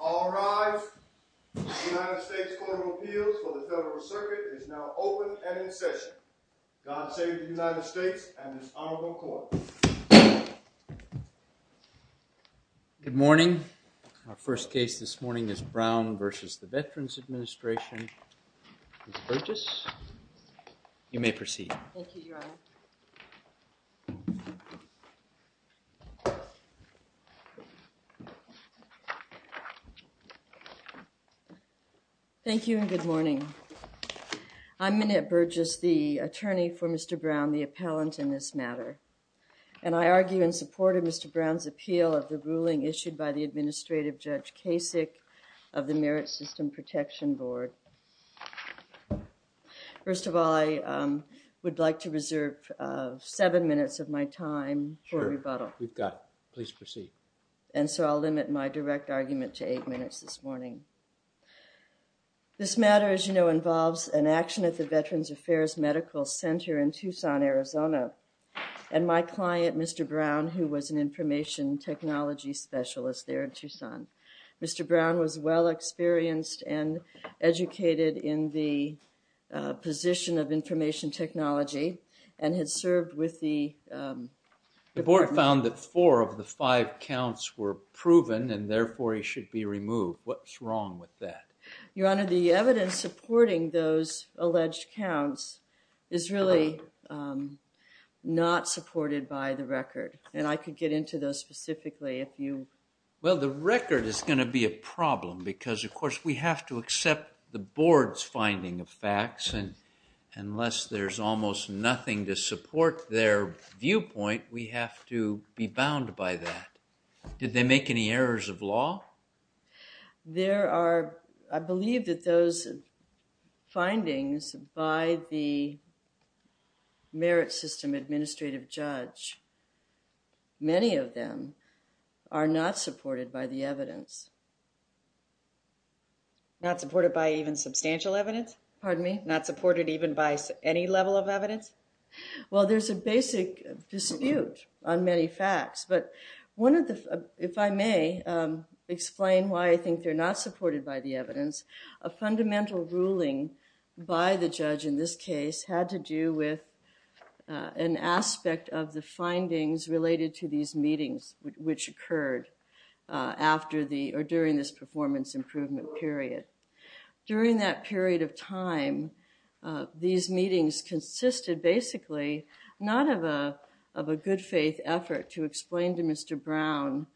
All rise. The United States Court of Appeals for the Federal Circuit is now open and in session. God save the United States and this honorable court. Good morning. Our first case this morning is Brown v. Veterans Administration. Ms. Burgess, you may proceed. Thank you, Your Honor. Thank you and good morning. I'm Minnette Burgess, the attorney for Mr. Brown, the appellant in this matter. And I argue in support of Mr. Brown's appeal of the ruling issued by the Administrative Judge Kasich of the Merit System Protection Board. First of all, I would like to reserve seven minutes of my time for rebuttal. Sure. We've got it. Please proceed. And so I'll limit my direct argument to eight minutes this morning. This matter, as you know, involves an action at the Veterans Affairs Medical Center in Tucson, Arizona, and my client, Mr. Brown, who was an information technology specialist there in Tucson. Mr. Brown was well experienced and educated in the position of information technology and had served with the – The board found that four of the five counts were proven and therefore he should be removed. What's wrong with that? Your Honor, the evidence supporting those alleged counts is really not supported by the record. And I could get into those specifically if you – Well, the record is going to be a problem because, of course, we have to accept the board's finding of facts. And unless there's almost nothing to support their viewpoint, we have to be bound by that. Did they make any errors of law? There are – I believe that those findings by the merit system administrative judge, many of them are not supported by the evidence. Not supported by even substantial evidence? Pardon me? Not supported even by any level of evidence? Well, there's a basic dispute on many facts, but one of the – if I may explain why I think they're not supported by the evidence. A fundamental ruling by the judge in this case had to do with an aspect of the findings related to these meetings which occurred after the – or during this performance improvement period. During that period of time, these meetings consisted basically not of a good faith effort to explain to Mr. Brown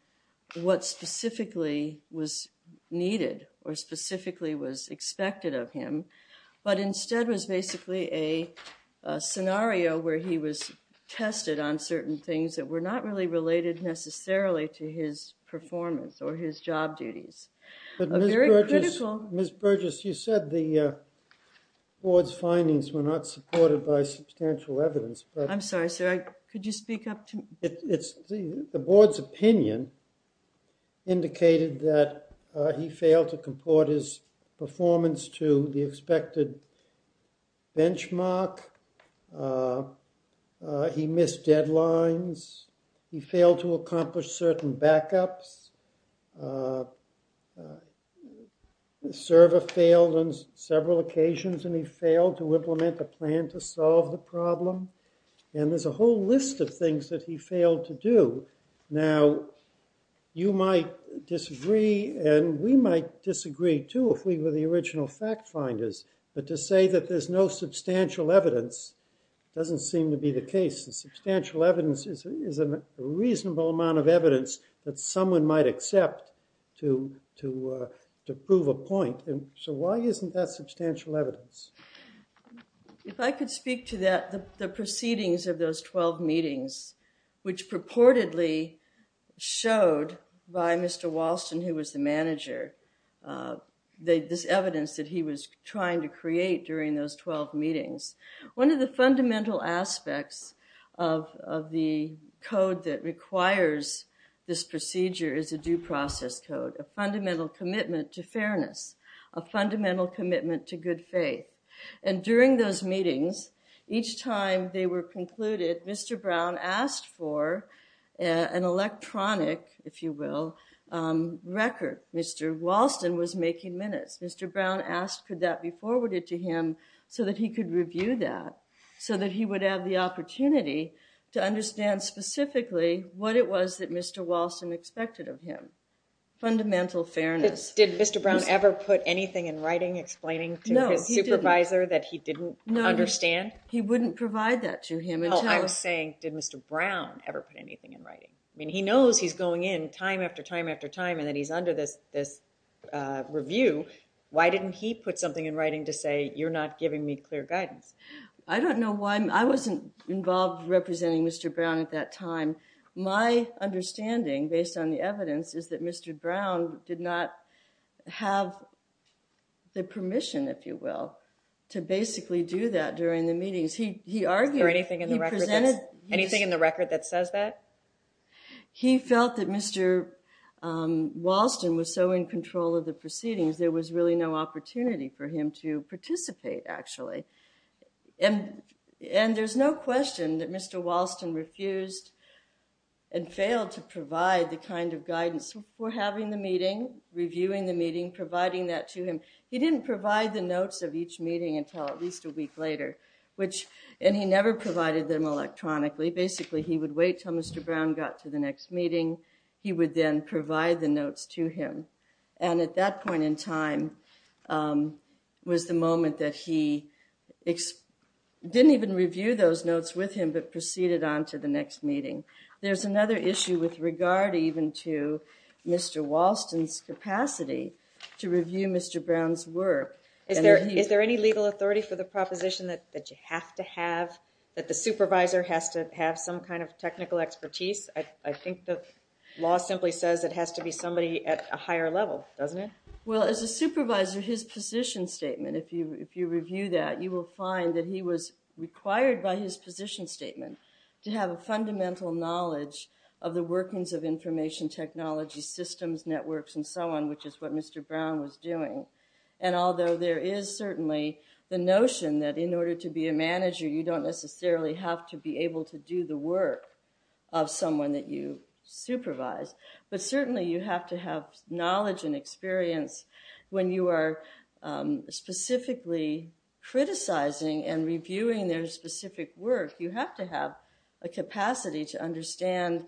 what specifically was needed or specifically was expected of him, but instead was basically a scenario where he was tested on certain things that were not really related necessarily to his performance or his job duties. Very critical. Ms. Burgess, you said the board's findings were not supported by substantial evidence. I'm sorry, sir. Could you speak up to me? The board's opinion indicated that he failed to comport his performance to the expected benchmark. He missed deadlines. He failed to accomplish certain backups. The server failed on several occasions, and he failed to implement a plan to solve the problem. And there's a whole list of things that he failed to do. Now, you might disagree, and we might disagree, too, if we were the original fact finders. But to say that there's no substantial evidence doesn't seem to be the case. Substantial evidence is a reasonable amount of evidence that someone might accept to prove a point. So why isn't that substantial evidence? If I could speak to that, the proceedings of those 12 meetings, which purportedly showed by Mr. Walston, who was the manager, this evidence that he was trying to create during those 12 meetings. One of the fundamental aspects of the code that requires this procedure is a due process code, a fundamental commitment to fairness, a fundamental commitment to good faith. And during those meetings, each time they were concluded, Mr. Brown asked for an electronic, if you will, record. Mr. Walston was making minutes. Mr. Brown asked could that be forwarded to him so that he could review that, so that he would have the opportunity to understand specifically what it was that Mr. Walston expected of him. Fundamental fairness. Did Mr. Brown ever put anything in writing explaining to his supervisor that he didn't understand? No, he wouldn't provide that to him. Oh, I'm saying did Mr. Brown ever put anything in writing? I mean, he knows he's going in time after time after time and that he's under this review. Why didn't he put something in writing to say you're not giving me clear guidance? I don't know why. I wasn't involved representing Mr. Brown at that time. My understanding, based on the evidence, is that Mr. Brown did not have the permission, if you will, to basically do that during the meetings. He argued. Anything in the record that says that? He felt that Mr. Walston was so in control of the proceedings, there was really no opportunity for him to participate, actually. And there's no question that Mr. Walston refused and failed to provide the kind of guidance for having the meeting, reviewing the meeting, providing that to him. He didn't provide the notes of each meeting until at least a week later, and he never provided them electronically. Basically, he would wait till Mr. Brown got to the next meeting. He would then provide the notes to him. And at that point in time was the moment that he didn't even review those notes with him but proceeded on to the next meeting. There's another issue with regard even to Mr. Walston's capacity to review Mr. Brown's work. Is there any legal authority for the proposition that you have to have, that the supervisor has to have some kind of technical expertise? I think the law simply says it has to be somebody at a higher level, doesn't it? Well, as a supervisor, his position statement, if you review that, you will find that he was required by his position statement to have a fundamental knowledge of the workings of information technology systems, networks, and so on, which is what Mr. Brown was doing. And although there is certainly the notion that in order to be a manager, you don't necessarily have to be able to do the work of someone that you supervise. But certainly, you have to have knowledge and experience when you are specifically criticizing and reviewing their specific work. You have to have a capacity to understand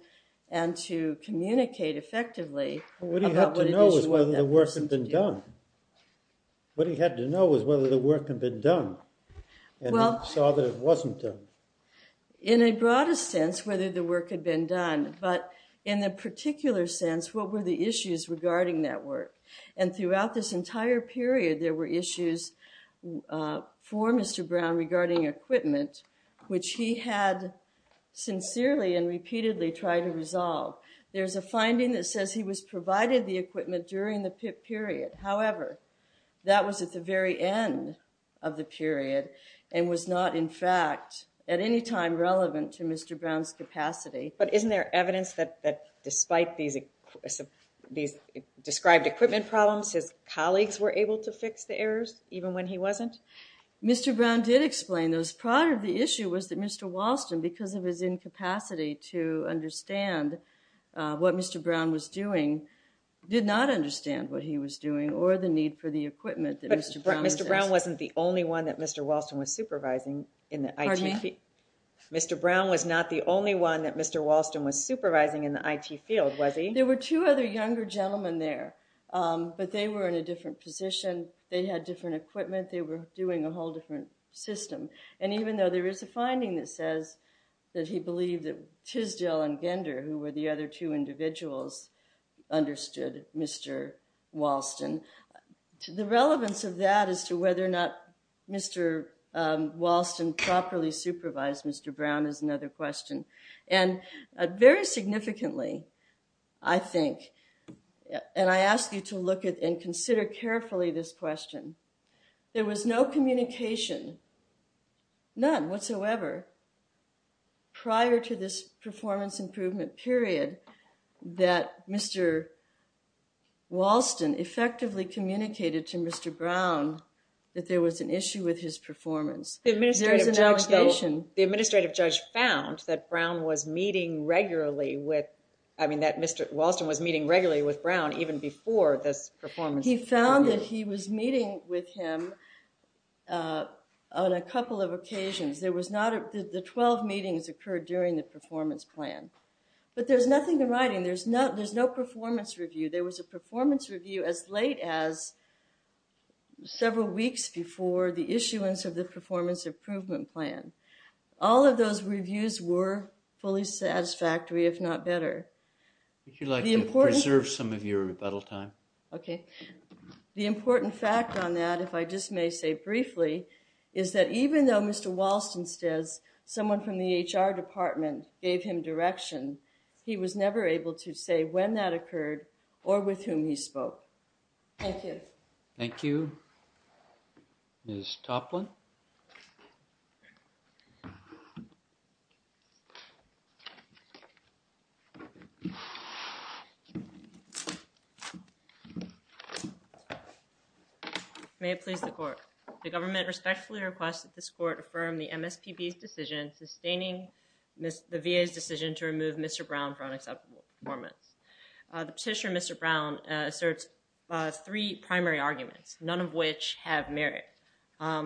and to communicate effectively about what it is you want them to do. What he had to know was whether the work had been done, and he saw that it wasn't done. In a broader sense, whether the work had been done, but in a particular sense, what were the issues regarding that work? And throughout this entire period, there were issues for Mr. Brown regarding equipment, which he had sincerely and repeatedly tried to resolve. There's a finding that says he was provided the equipment during the PIP period. However, that was at the very end of the period and was not, in fact, at any time relevant to Mr. Brown's capacity. But isn't there evidence that despite these described equipment problems, his colleagues were able to fix the errors, even when he wasn't? Mr. Brown did explain those. Part of the issue was that Mr. Walston, because of his incapacity to understand what Mr. Brown was doing, did not understand what he was doing or the need for the equipment that Mr. Brown was using. But Mr. Brown wasn't the only one that Mr. Walston was supervising in the IT field. Pardon me? Mr. Brown was not the only one that Mr. Walston was supervising in the IT field, was he? There were two other younger gentlemen there, but they were in a different position. They had different equipment. They were doing a whole different system. And even though there is a finding that says that he believed that Tisdale and Gender, who were the other two individuals, understood Mr. Walston, the relevance of that as to whether or not Mr. Walston properly supervised Mr. Brown is another question. And very significantly, I think, and I ask you to look at and consider carefully this question, there was no communication, none whatsoever, prior to this performance improvement period, that Mr. Walston effectively communicated to Mr. Brown that there was an issue with his performance. There is an allegation. The administrative judge found that Mr. Walston was meeting regularly with Brown even before this performance improvement period. He found that he was meeting with him on a couple of occasions. The 12 meetings occurred during the performance plan. But there's nothing in writing. There's no performance review. There was a performance review as late as several weeks before the issuance of the performance improvement plan. All of those reviews were fully satisfactory, if not better. Would you like to preserve some of your rebuttal time? Okay. The important fact on that, if I just may say briefly, is that even though Mr. Walston says someone from the HR department gave him direction, he was never able to say when that occurred or with whom he spoke. Thank you. Thank you. Ms. Toplin? May it please the Court. The government respectfully requests that this Court affirm the MSPB's decision sustaining the VA's decision to remove Mr. Brown for unacceptable performance. The petitioner, Mr. Brown, asserts three primary arguments, none of which have merit.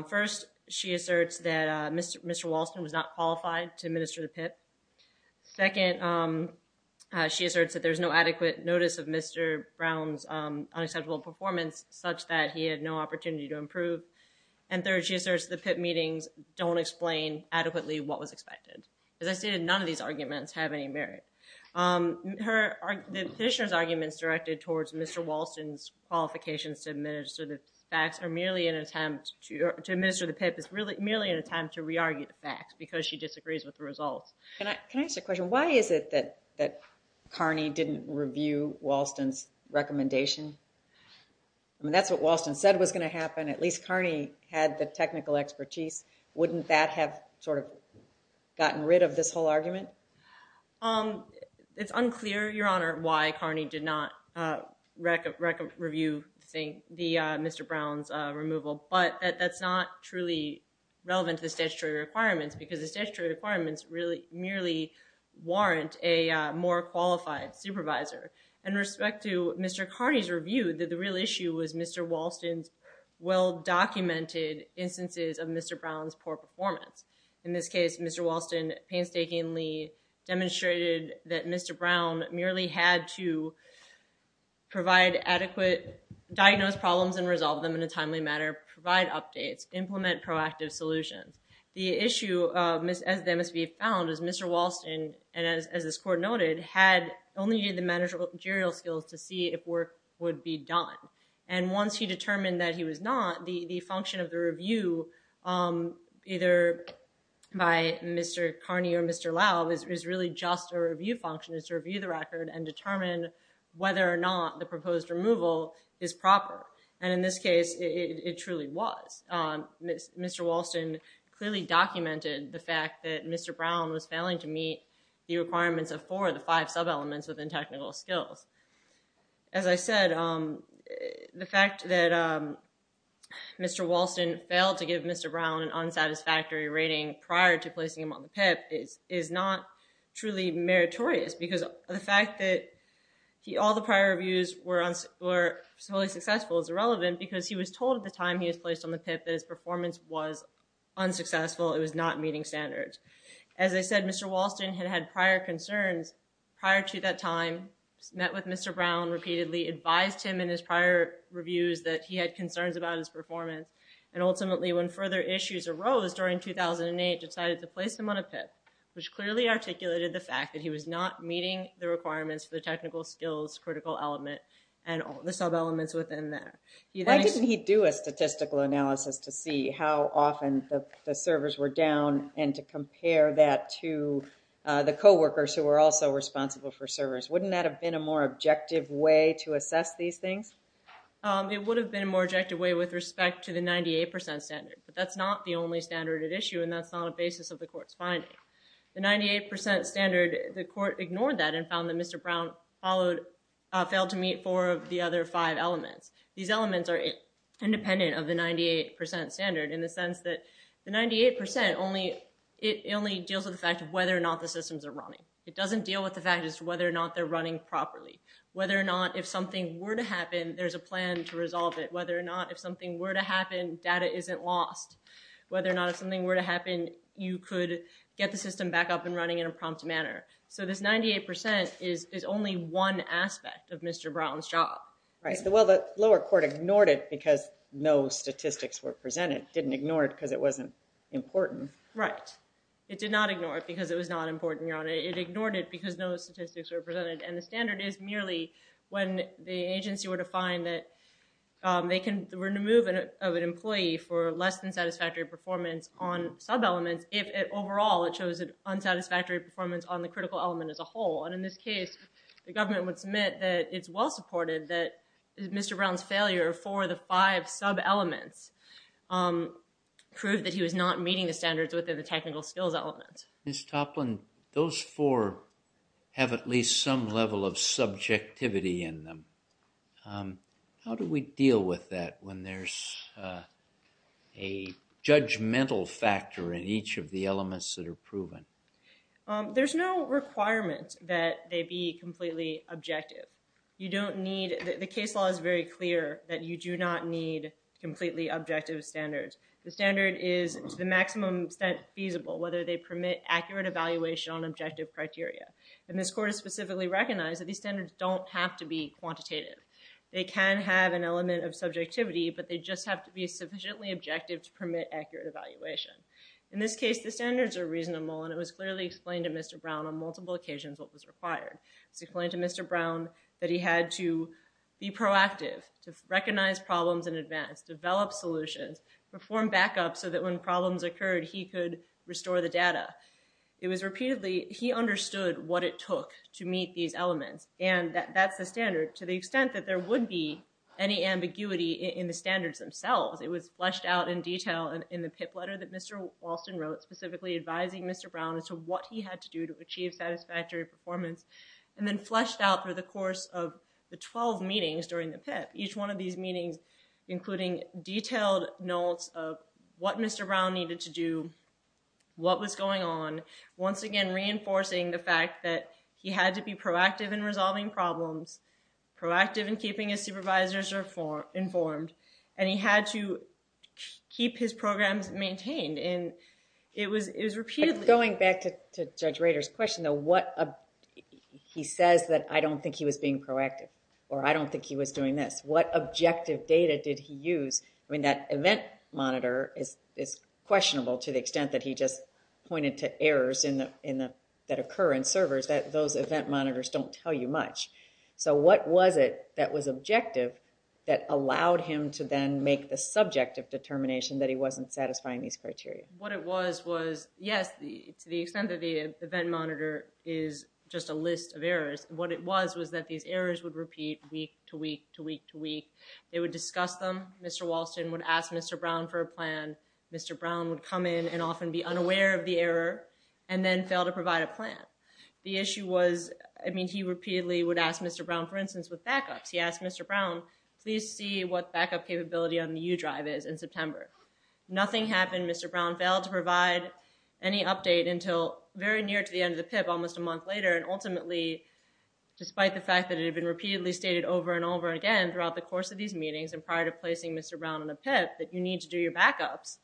First, she asserts that Mr. Walston was not qualified to administer the PIP. Second, she asserts that there's no adequate notice of Mr. Brown's unacceptable performance such that he had no opportunity to improve. And third, she asserts the PIP meetings don't explain adequately what was expected. As I stated, none of these arguments have any merit. The petitioner's arguments directed towards Mr. Walston's qualifications to administer the PIP is merely an attempt to re-argue the facts because she disagrees with the results. Can I ask a question? Why is it that Carney didn't review Walston's recommendation? I mean, that's what Walston said was going to happen. At least Carney had the technical expertise. Wouldn't that have sort of gotten rid of this whole argument? It's unclear, Your Honor, why Carney did not review the Mr. Brown's removal, but that's not truly relevant to the statutory requirements because the statutory requirements really merely warrant a more qualified supervisor. In respect to Mr. Carney's review, the real issue was Mr. Walston's well-documented instances of Mr. Brown's poor performance. In this case, Mr. Walston painstakingly demonstrated that Mr. Brown merely had to provide adequate diagnosed problems and resolve them in a timely manner, provide updates, implement proactive solutions. The issue, as they must be found, is Mr. Walston, as this court noted, had only the managerial skills to see if work would be done. And once he determined that he was not, the function of the review, either by Mr. Carney or Mr. Laub, is really just a review function. It's to review the record and determine whether or not the proposed removal is proper. And in this case, it truly was. Mr. Walston clearly documented the fact that Mr. Brown was failing to meet the requirements of four of the five sub-elements within technical skills. As I said, the fact that Mr. Walston failed to give Mr. Brown an unsatisfactory rating prior to placing him on the PIP is not truly meritorious. Because the fact that all the prior reviews were solely successful is irrelevant because he was told at the time he was placed on the PIP that his performance was unsuccessful. It was not meeting standards. As I said, Mr. Walston had had prior concerns prior to that time, met with Mr. Brown repeatedly, advised him in his prior reviews that he had concerns about his performance. And ultimately, when further issues arose during 2008, decided to place him on a PIP, which clearly articulated the fact that he was not meeting the requirements for the technical skills critical element and all the sub-elements within that. Why didn't he do a statistical analysis to see how often the servers were down and to compare that to the coworkers who were also responsible for servers? Wouldn't that have been a more objective way to assess these things? It would have been a more objective way with respect to the 98% standard. But that's not the only standard at issue, and that's not a basis of the court's finding. The 98% standard, the court ignored that and found that Mr. Brown failed to meet four of the other five elements. These elements are independent of the 98% standard in the sense that the 98%, it only deals with the fact of whether or not the systems are running. It doesn't deal with the fact as to whether or not they're running properly. Whether or not if something were to happen, there's a plan to resolve it. Whether or not if something were to happen, data isn't lost. Whether or not if something were to happen, you could get the system back up and running in a prompt manner. So this 98% is only one aspect of Mr. Brown's job. Right. Well, the lower court ignored it because no statistics were presented. It didn't ignore it because it wasn't important. Right. It did not ignore it because it was not important, Your Honor. It ignored it because no statistics were presented. And the standard is merely when the agency were to find that they can remove an employee for less than satisfactory performance on sub-elements if overall it shows an unsatisfactory performance on the critical element as a whole. And in this case, the government would submit that it's well-supported that Mr. Brown's failure for the five sub-elements proved that he was not meeting the standards within the technical skills element. Ms. Toplin, those four have at least some level of subjectivity in them. How do we deal with that when there's a judgmental factor in each of the elements that are proven? There's no requirement that they be completely objective. The case law is very clear that you do not need completely objective standards. The standard is to the maximum extent feasible whether they permit accurate evaluation on objective criteria. And this court has specifically recognized that these standards don't have to be quantitative. They can have an element of subjectivity, but they just have to be sufficiently objective to permit accurate evaluation. In this case, the standards are reasonable, and it was clearly explained to Mr. Brown on multiple occasions what was required. It was explained to Mr. Brown that he had to be proactive, to recognize problems in advance, develop solutions, perform backup so that when problems occurred, he could restore the data. It was repeatedly, he understood what it took to meet these elements, and that's the standard to the extent that there would be any ambiguity in the standards themselves. It was fleshed out in detail in the PIP letter that Mr. Walston wrote, specifically advising Mr. Brown as to what he had to do to achieve satisfactory performance, and then fleshed out through the course of the 12 meetings during the PIP, each one of these meetings including detailed notes of what Mr. Brown needed to do, what was going on, once again reinforcing the fact that he had to be proactive in resolving problems, proactive in keeping his supervisors informed, and he had to keep his programs maintained. It was repeatedly... Going back to Judge Rader's question, he says that I don't think he was being proactive, or I don't think he was doing this. What objective data did he use? I mean, that event monitor is questionable to the extent that he just pointed to errors that occur in servers. Those event monitors don't tell you much. So what was it that was objective that allowed him to then make the subjective determination that he wasn't satisfying these criteria? What it was was, yes, to the extent that the event monitor is just a list of errors, what it was was that these errors would repeat week to week to week to week. They would discuss them. Mr. Walston would ask Mr. Brown for a plan. Mr. Brown would come in and often be unaware of the error and then fail to provide a plan. The issue was, I mean, he repeatedly would ask Mr. Brown, for instance, with backups. He asked Mr. Brown, please see what backup capability on the U drive is in September. Nothing happened. Mr. Brown failed to provide any update until very near to the end of the PIP, almost a month later, and ultimately, despite the fact that it had been repeatedly stated over and over again throughout the course of these meetings and prior to placing Mr. Brown on a PIP that you need to do your backups,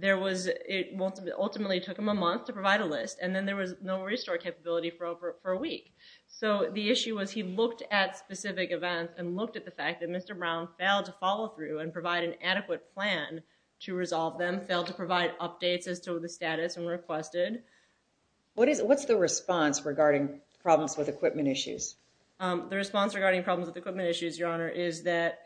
it ultimately took him a month to provide a list, and then there was no restore capability for a week. So the issue was he looked at specific events and looked at the fact that Mr. Brown failed to follow through and provide an adequate plan to resolve them, failed to provide updates as to the status and requested. What's the response regarding problems with equipment issues? The response regarding problems with equipment issues, Your Honor, is that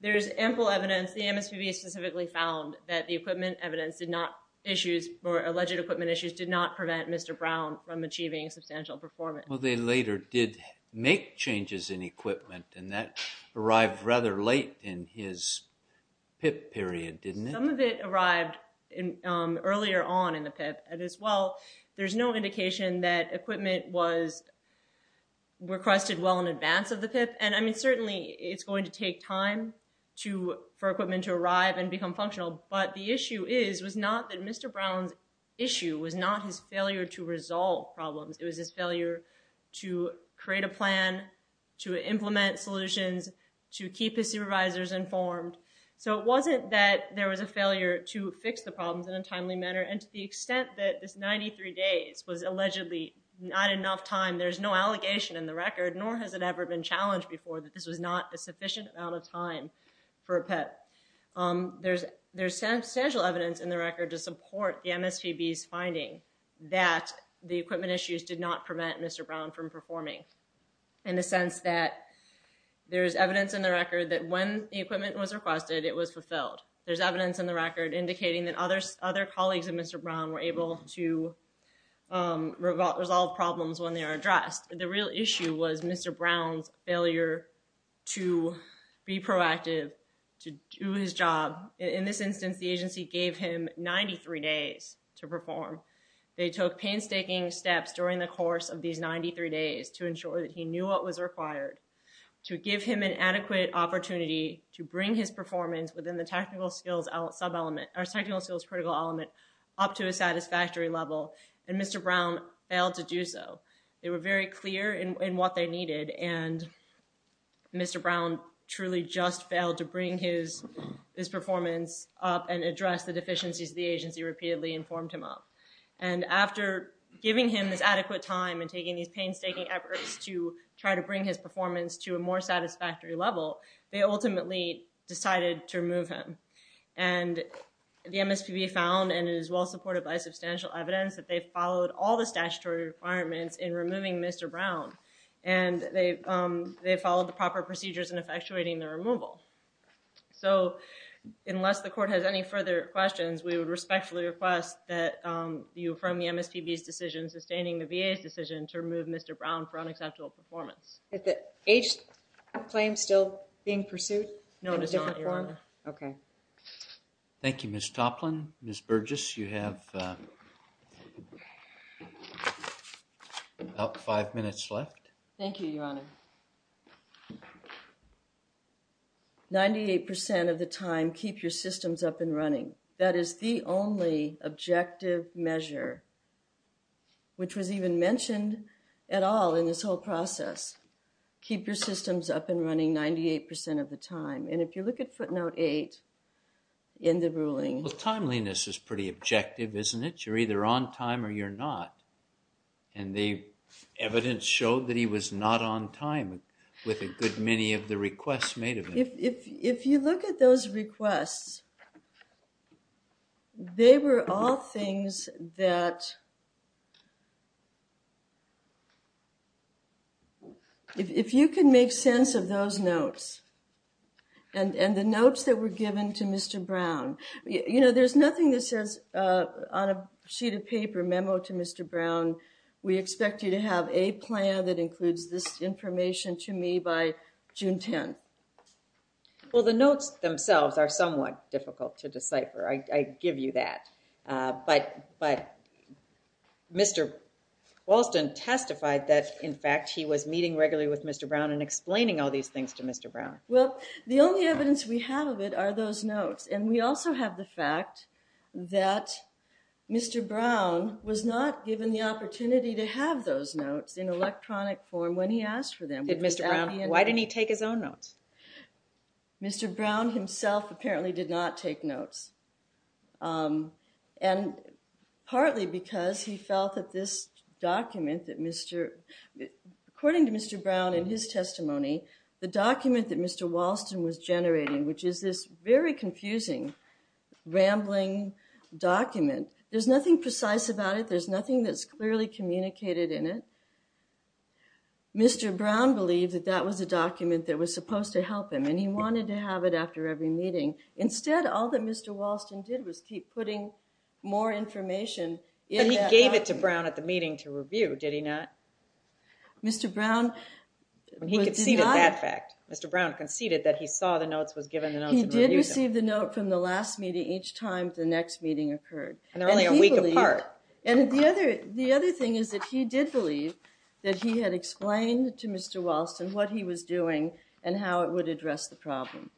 there's ample evidence. The MSPB specifically found that the equipment evidence did not, issues or alleged equipment issues did not prevent Mr. Brown from achieving substantial performance. Well, they later did make changes in equipment, and that arrived rather late in his PIP period, didn't it? Some of it arrived earlier on in the PIP as well. There's no indication that equipment was requested well in advance of the PIP, and, I mean, certainly it's going to take time for equipment to arrive and become functional, but the issue is was not that Mr. Brown's issue was not his failure to resolve problems. It was his failure to create a plan, to implement solutions, to keep his supervisors informed. So it wasn't that there was a failure to fix the problems in a timely manner, and to the extent that this 93 days was allegedly not enough time, there's no allegation in the record, nor has it ever been challenged before, that this was not a sufficient amount of time for a PIP. There's substantial evidence in the record to support the MSPB's finding that the equipment issues did not prevent Mr. Brown from performing, in the sense that there's evidence in the record that when the equipment was requested, it was fulfilled. There's evidence in the record indicating that other colleagues of Mr. Brown were able to resolve problems when they were addressed. The real issue was Mr. Brown's failure to be proactive, to do his job. In this instance, the agency gave him 93 days to perform. They took painstaking steps during the course of these 93 days to ensure that he knew what was required, to give him an adequate opportunity to bring his performance within the technical skills critical element up to a satisfactory level, and Mr. Brown failed to do so. They were very clear in what they needed, and Mr. Brown truly just failed to bring his performance up and address the deficiencies the agency repeatedly informed him of. And after giving him this adequate time and taking these painstaking efforts to try to bring his performance to a more satisfactory level, they ultimately decided to remove him. And the MSPB found, and is well supported by substantial evidence, that they followed all the statutory requirements in removing Mr. Brown, and they followed the proper procedures in effectuating the removal. So unless the court has any further questions, we would respectfully request that you affirm the MSPB's decision, sustaining the VA's decision to remove Mr. Brown for unacceptable performance. Is the age claim still being pursued? No, it is not, Your Honor. Okay. Thank you, Ms. Toplin. Ms. Burgess, you have about five minutes left. Thank you, Your Honor. Ninety-eight percent of the time, keep your systems up and running. That is the only objective measure, which was even mentioned at all in this whole process. Keep your systems up and running 98 percent of the time. And if you look at footnote eight in the ruling. Well, timeliness is pretty objective, isn't it? You're either on time or you're not. And the evidence showed that he was not on time with a good many of the requests made of him. If you look at those requests, they were all things that if you can make sense of those notes and the notes that were given to Mr. Brown, you know, there's nothing that says on a sheet of paper, we expect you to have a plan that includes this information to me by June 10th. Well, the notes themselves are somewhat difficult to decipher. I give you that. But Mr. Walston testified that, in fact, he was meeting regularly with Mr. Brown and explaining all these things to Mr. Brown. Well, the only evidence we have of it are those notes. And we also have the fact that Mr. Brown was not given the opportunity to have those notes in electronic form when he asked for them. Why didn't he take his own notes? Mr. Brown himself apparently did not take notes. And partly because he felt that this document that Mr. According to Mr. Brown in his testimony, the document that Mr. Walston was generating, which is this very confusing, rambling document, there's nothing precise about it. There's nothing that's clearly communicated in it. Mr. Brown believed that that was a document that was supposed to help him, and he wanted to have it after every meeting. Instead, all that Mr. Walston did was keep putting more information in that document. He went to Brown at the meeting to review, did he not? Mr. Brown did not. He conceded that fact. Mr. Brown conceded that he saw the notes, was given the notes, and reviewed them. He did receive the note from the last meeting each time the next meeting occurred. And only a week apart. And the other thing is that he did believe that he had explained to Mr. Walston what he was doing and how it would address the problem.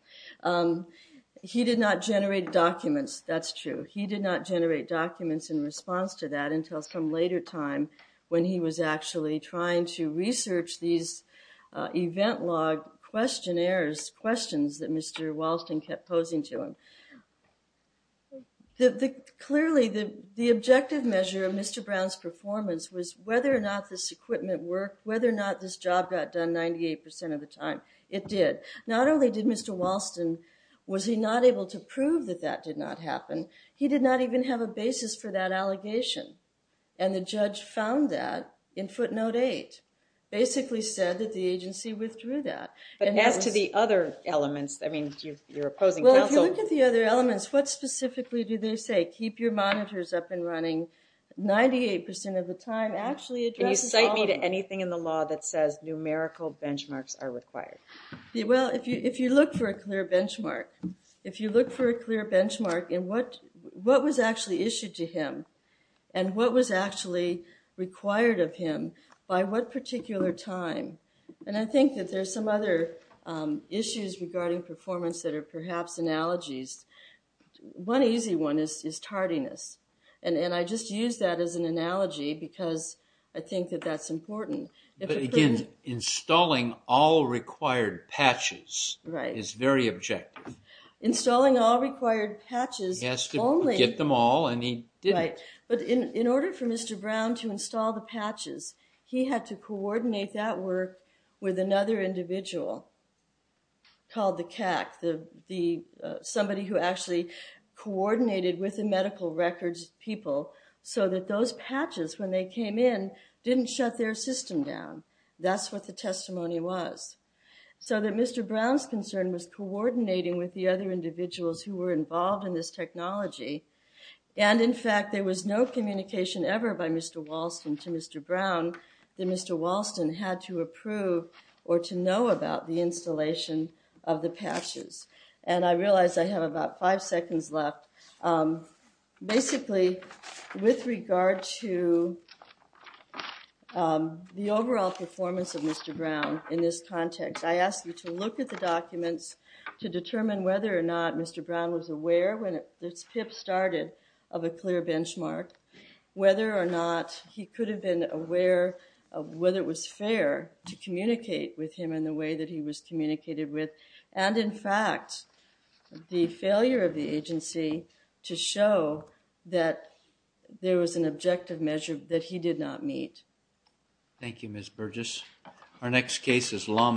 He did not generate documents. That's true. He did not generate documents in response to that until some later time when he was actually trying to research these event log questionnaires, questions that Mr. Walston kept posing to him. Clearly, the objective measure of Mr. Brown's performance was whether or not this equipment worked, whether or not this job got done 98% of the time. It did. Not only did Mr. Walston, was he not able to prove that that did not happen, he did not even have a basis for that allegation. And the judge found that in footnote eight. Basically said that the agency withdrew that. But as to the other elements, I mean, you're opposing counsel. Well, if you look at the other elements, what specifically do they say? Keep your monitors up and running 98% of the time actually addresses the problem. Can you cite me to anything in the law that says numerical benchmarks are required? Well, if you look for a clear benchmark. If you look for a clear benchmark in what was actually issued to him and what was actually required of him by what particular time. And I think that there's some other issues regarding performance that are perhaps analogies. One easy one is tardiness. And I just use that as an analogy because I think that that's important. But again, installing all required patches is very objective. Installing all required patches. He has to get them all and he didn't. But in order for Mr. Brown to install the patches, he had to coordinate that work with another individual called the CAC. Somebody who actually coordinated with the medical records people so that those patches, when they came in, didn't shut their system down. That's what the testimony was. So that Mr. Brown's concern was coordinating with the other individuals who were involved in this technology. And in fact, there was no communication ever by Mr. Walston to Mr. Brown that Mr. Walston had to approve or to know about the installation of the patches. And I realize I have about five seconds left. Basically, with regard to the overall performance of Mr. Brown in this context, I ask you to look at the documents to determine whether or not Mr. Brown was aware when this PIP started of a clear benchmark, whether or not he could have been aware of whether it was fair to communicate with him in the way that he was communicated with. And in fact, the failure of the agency to show that there was an objective measure that he did not meet. Thank you, Ms. Burgess. Our next case is Lawman.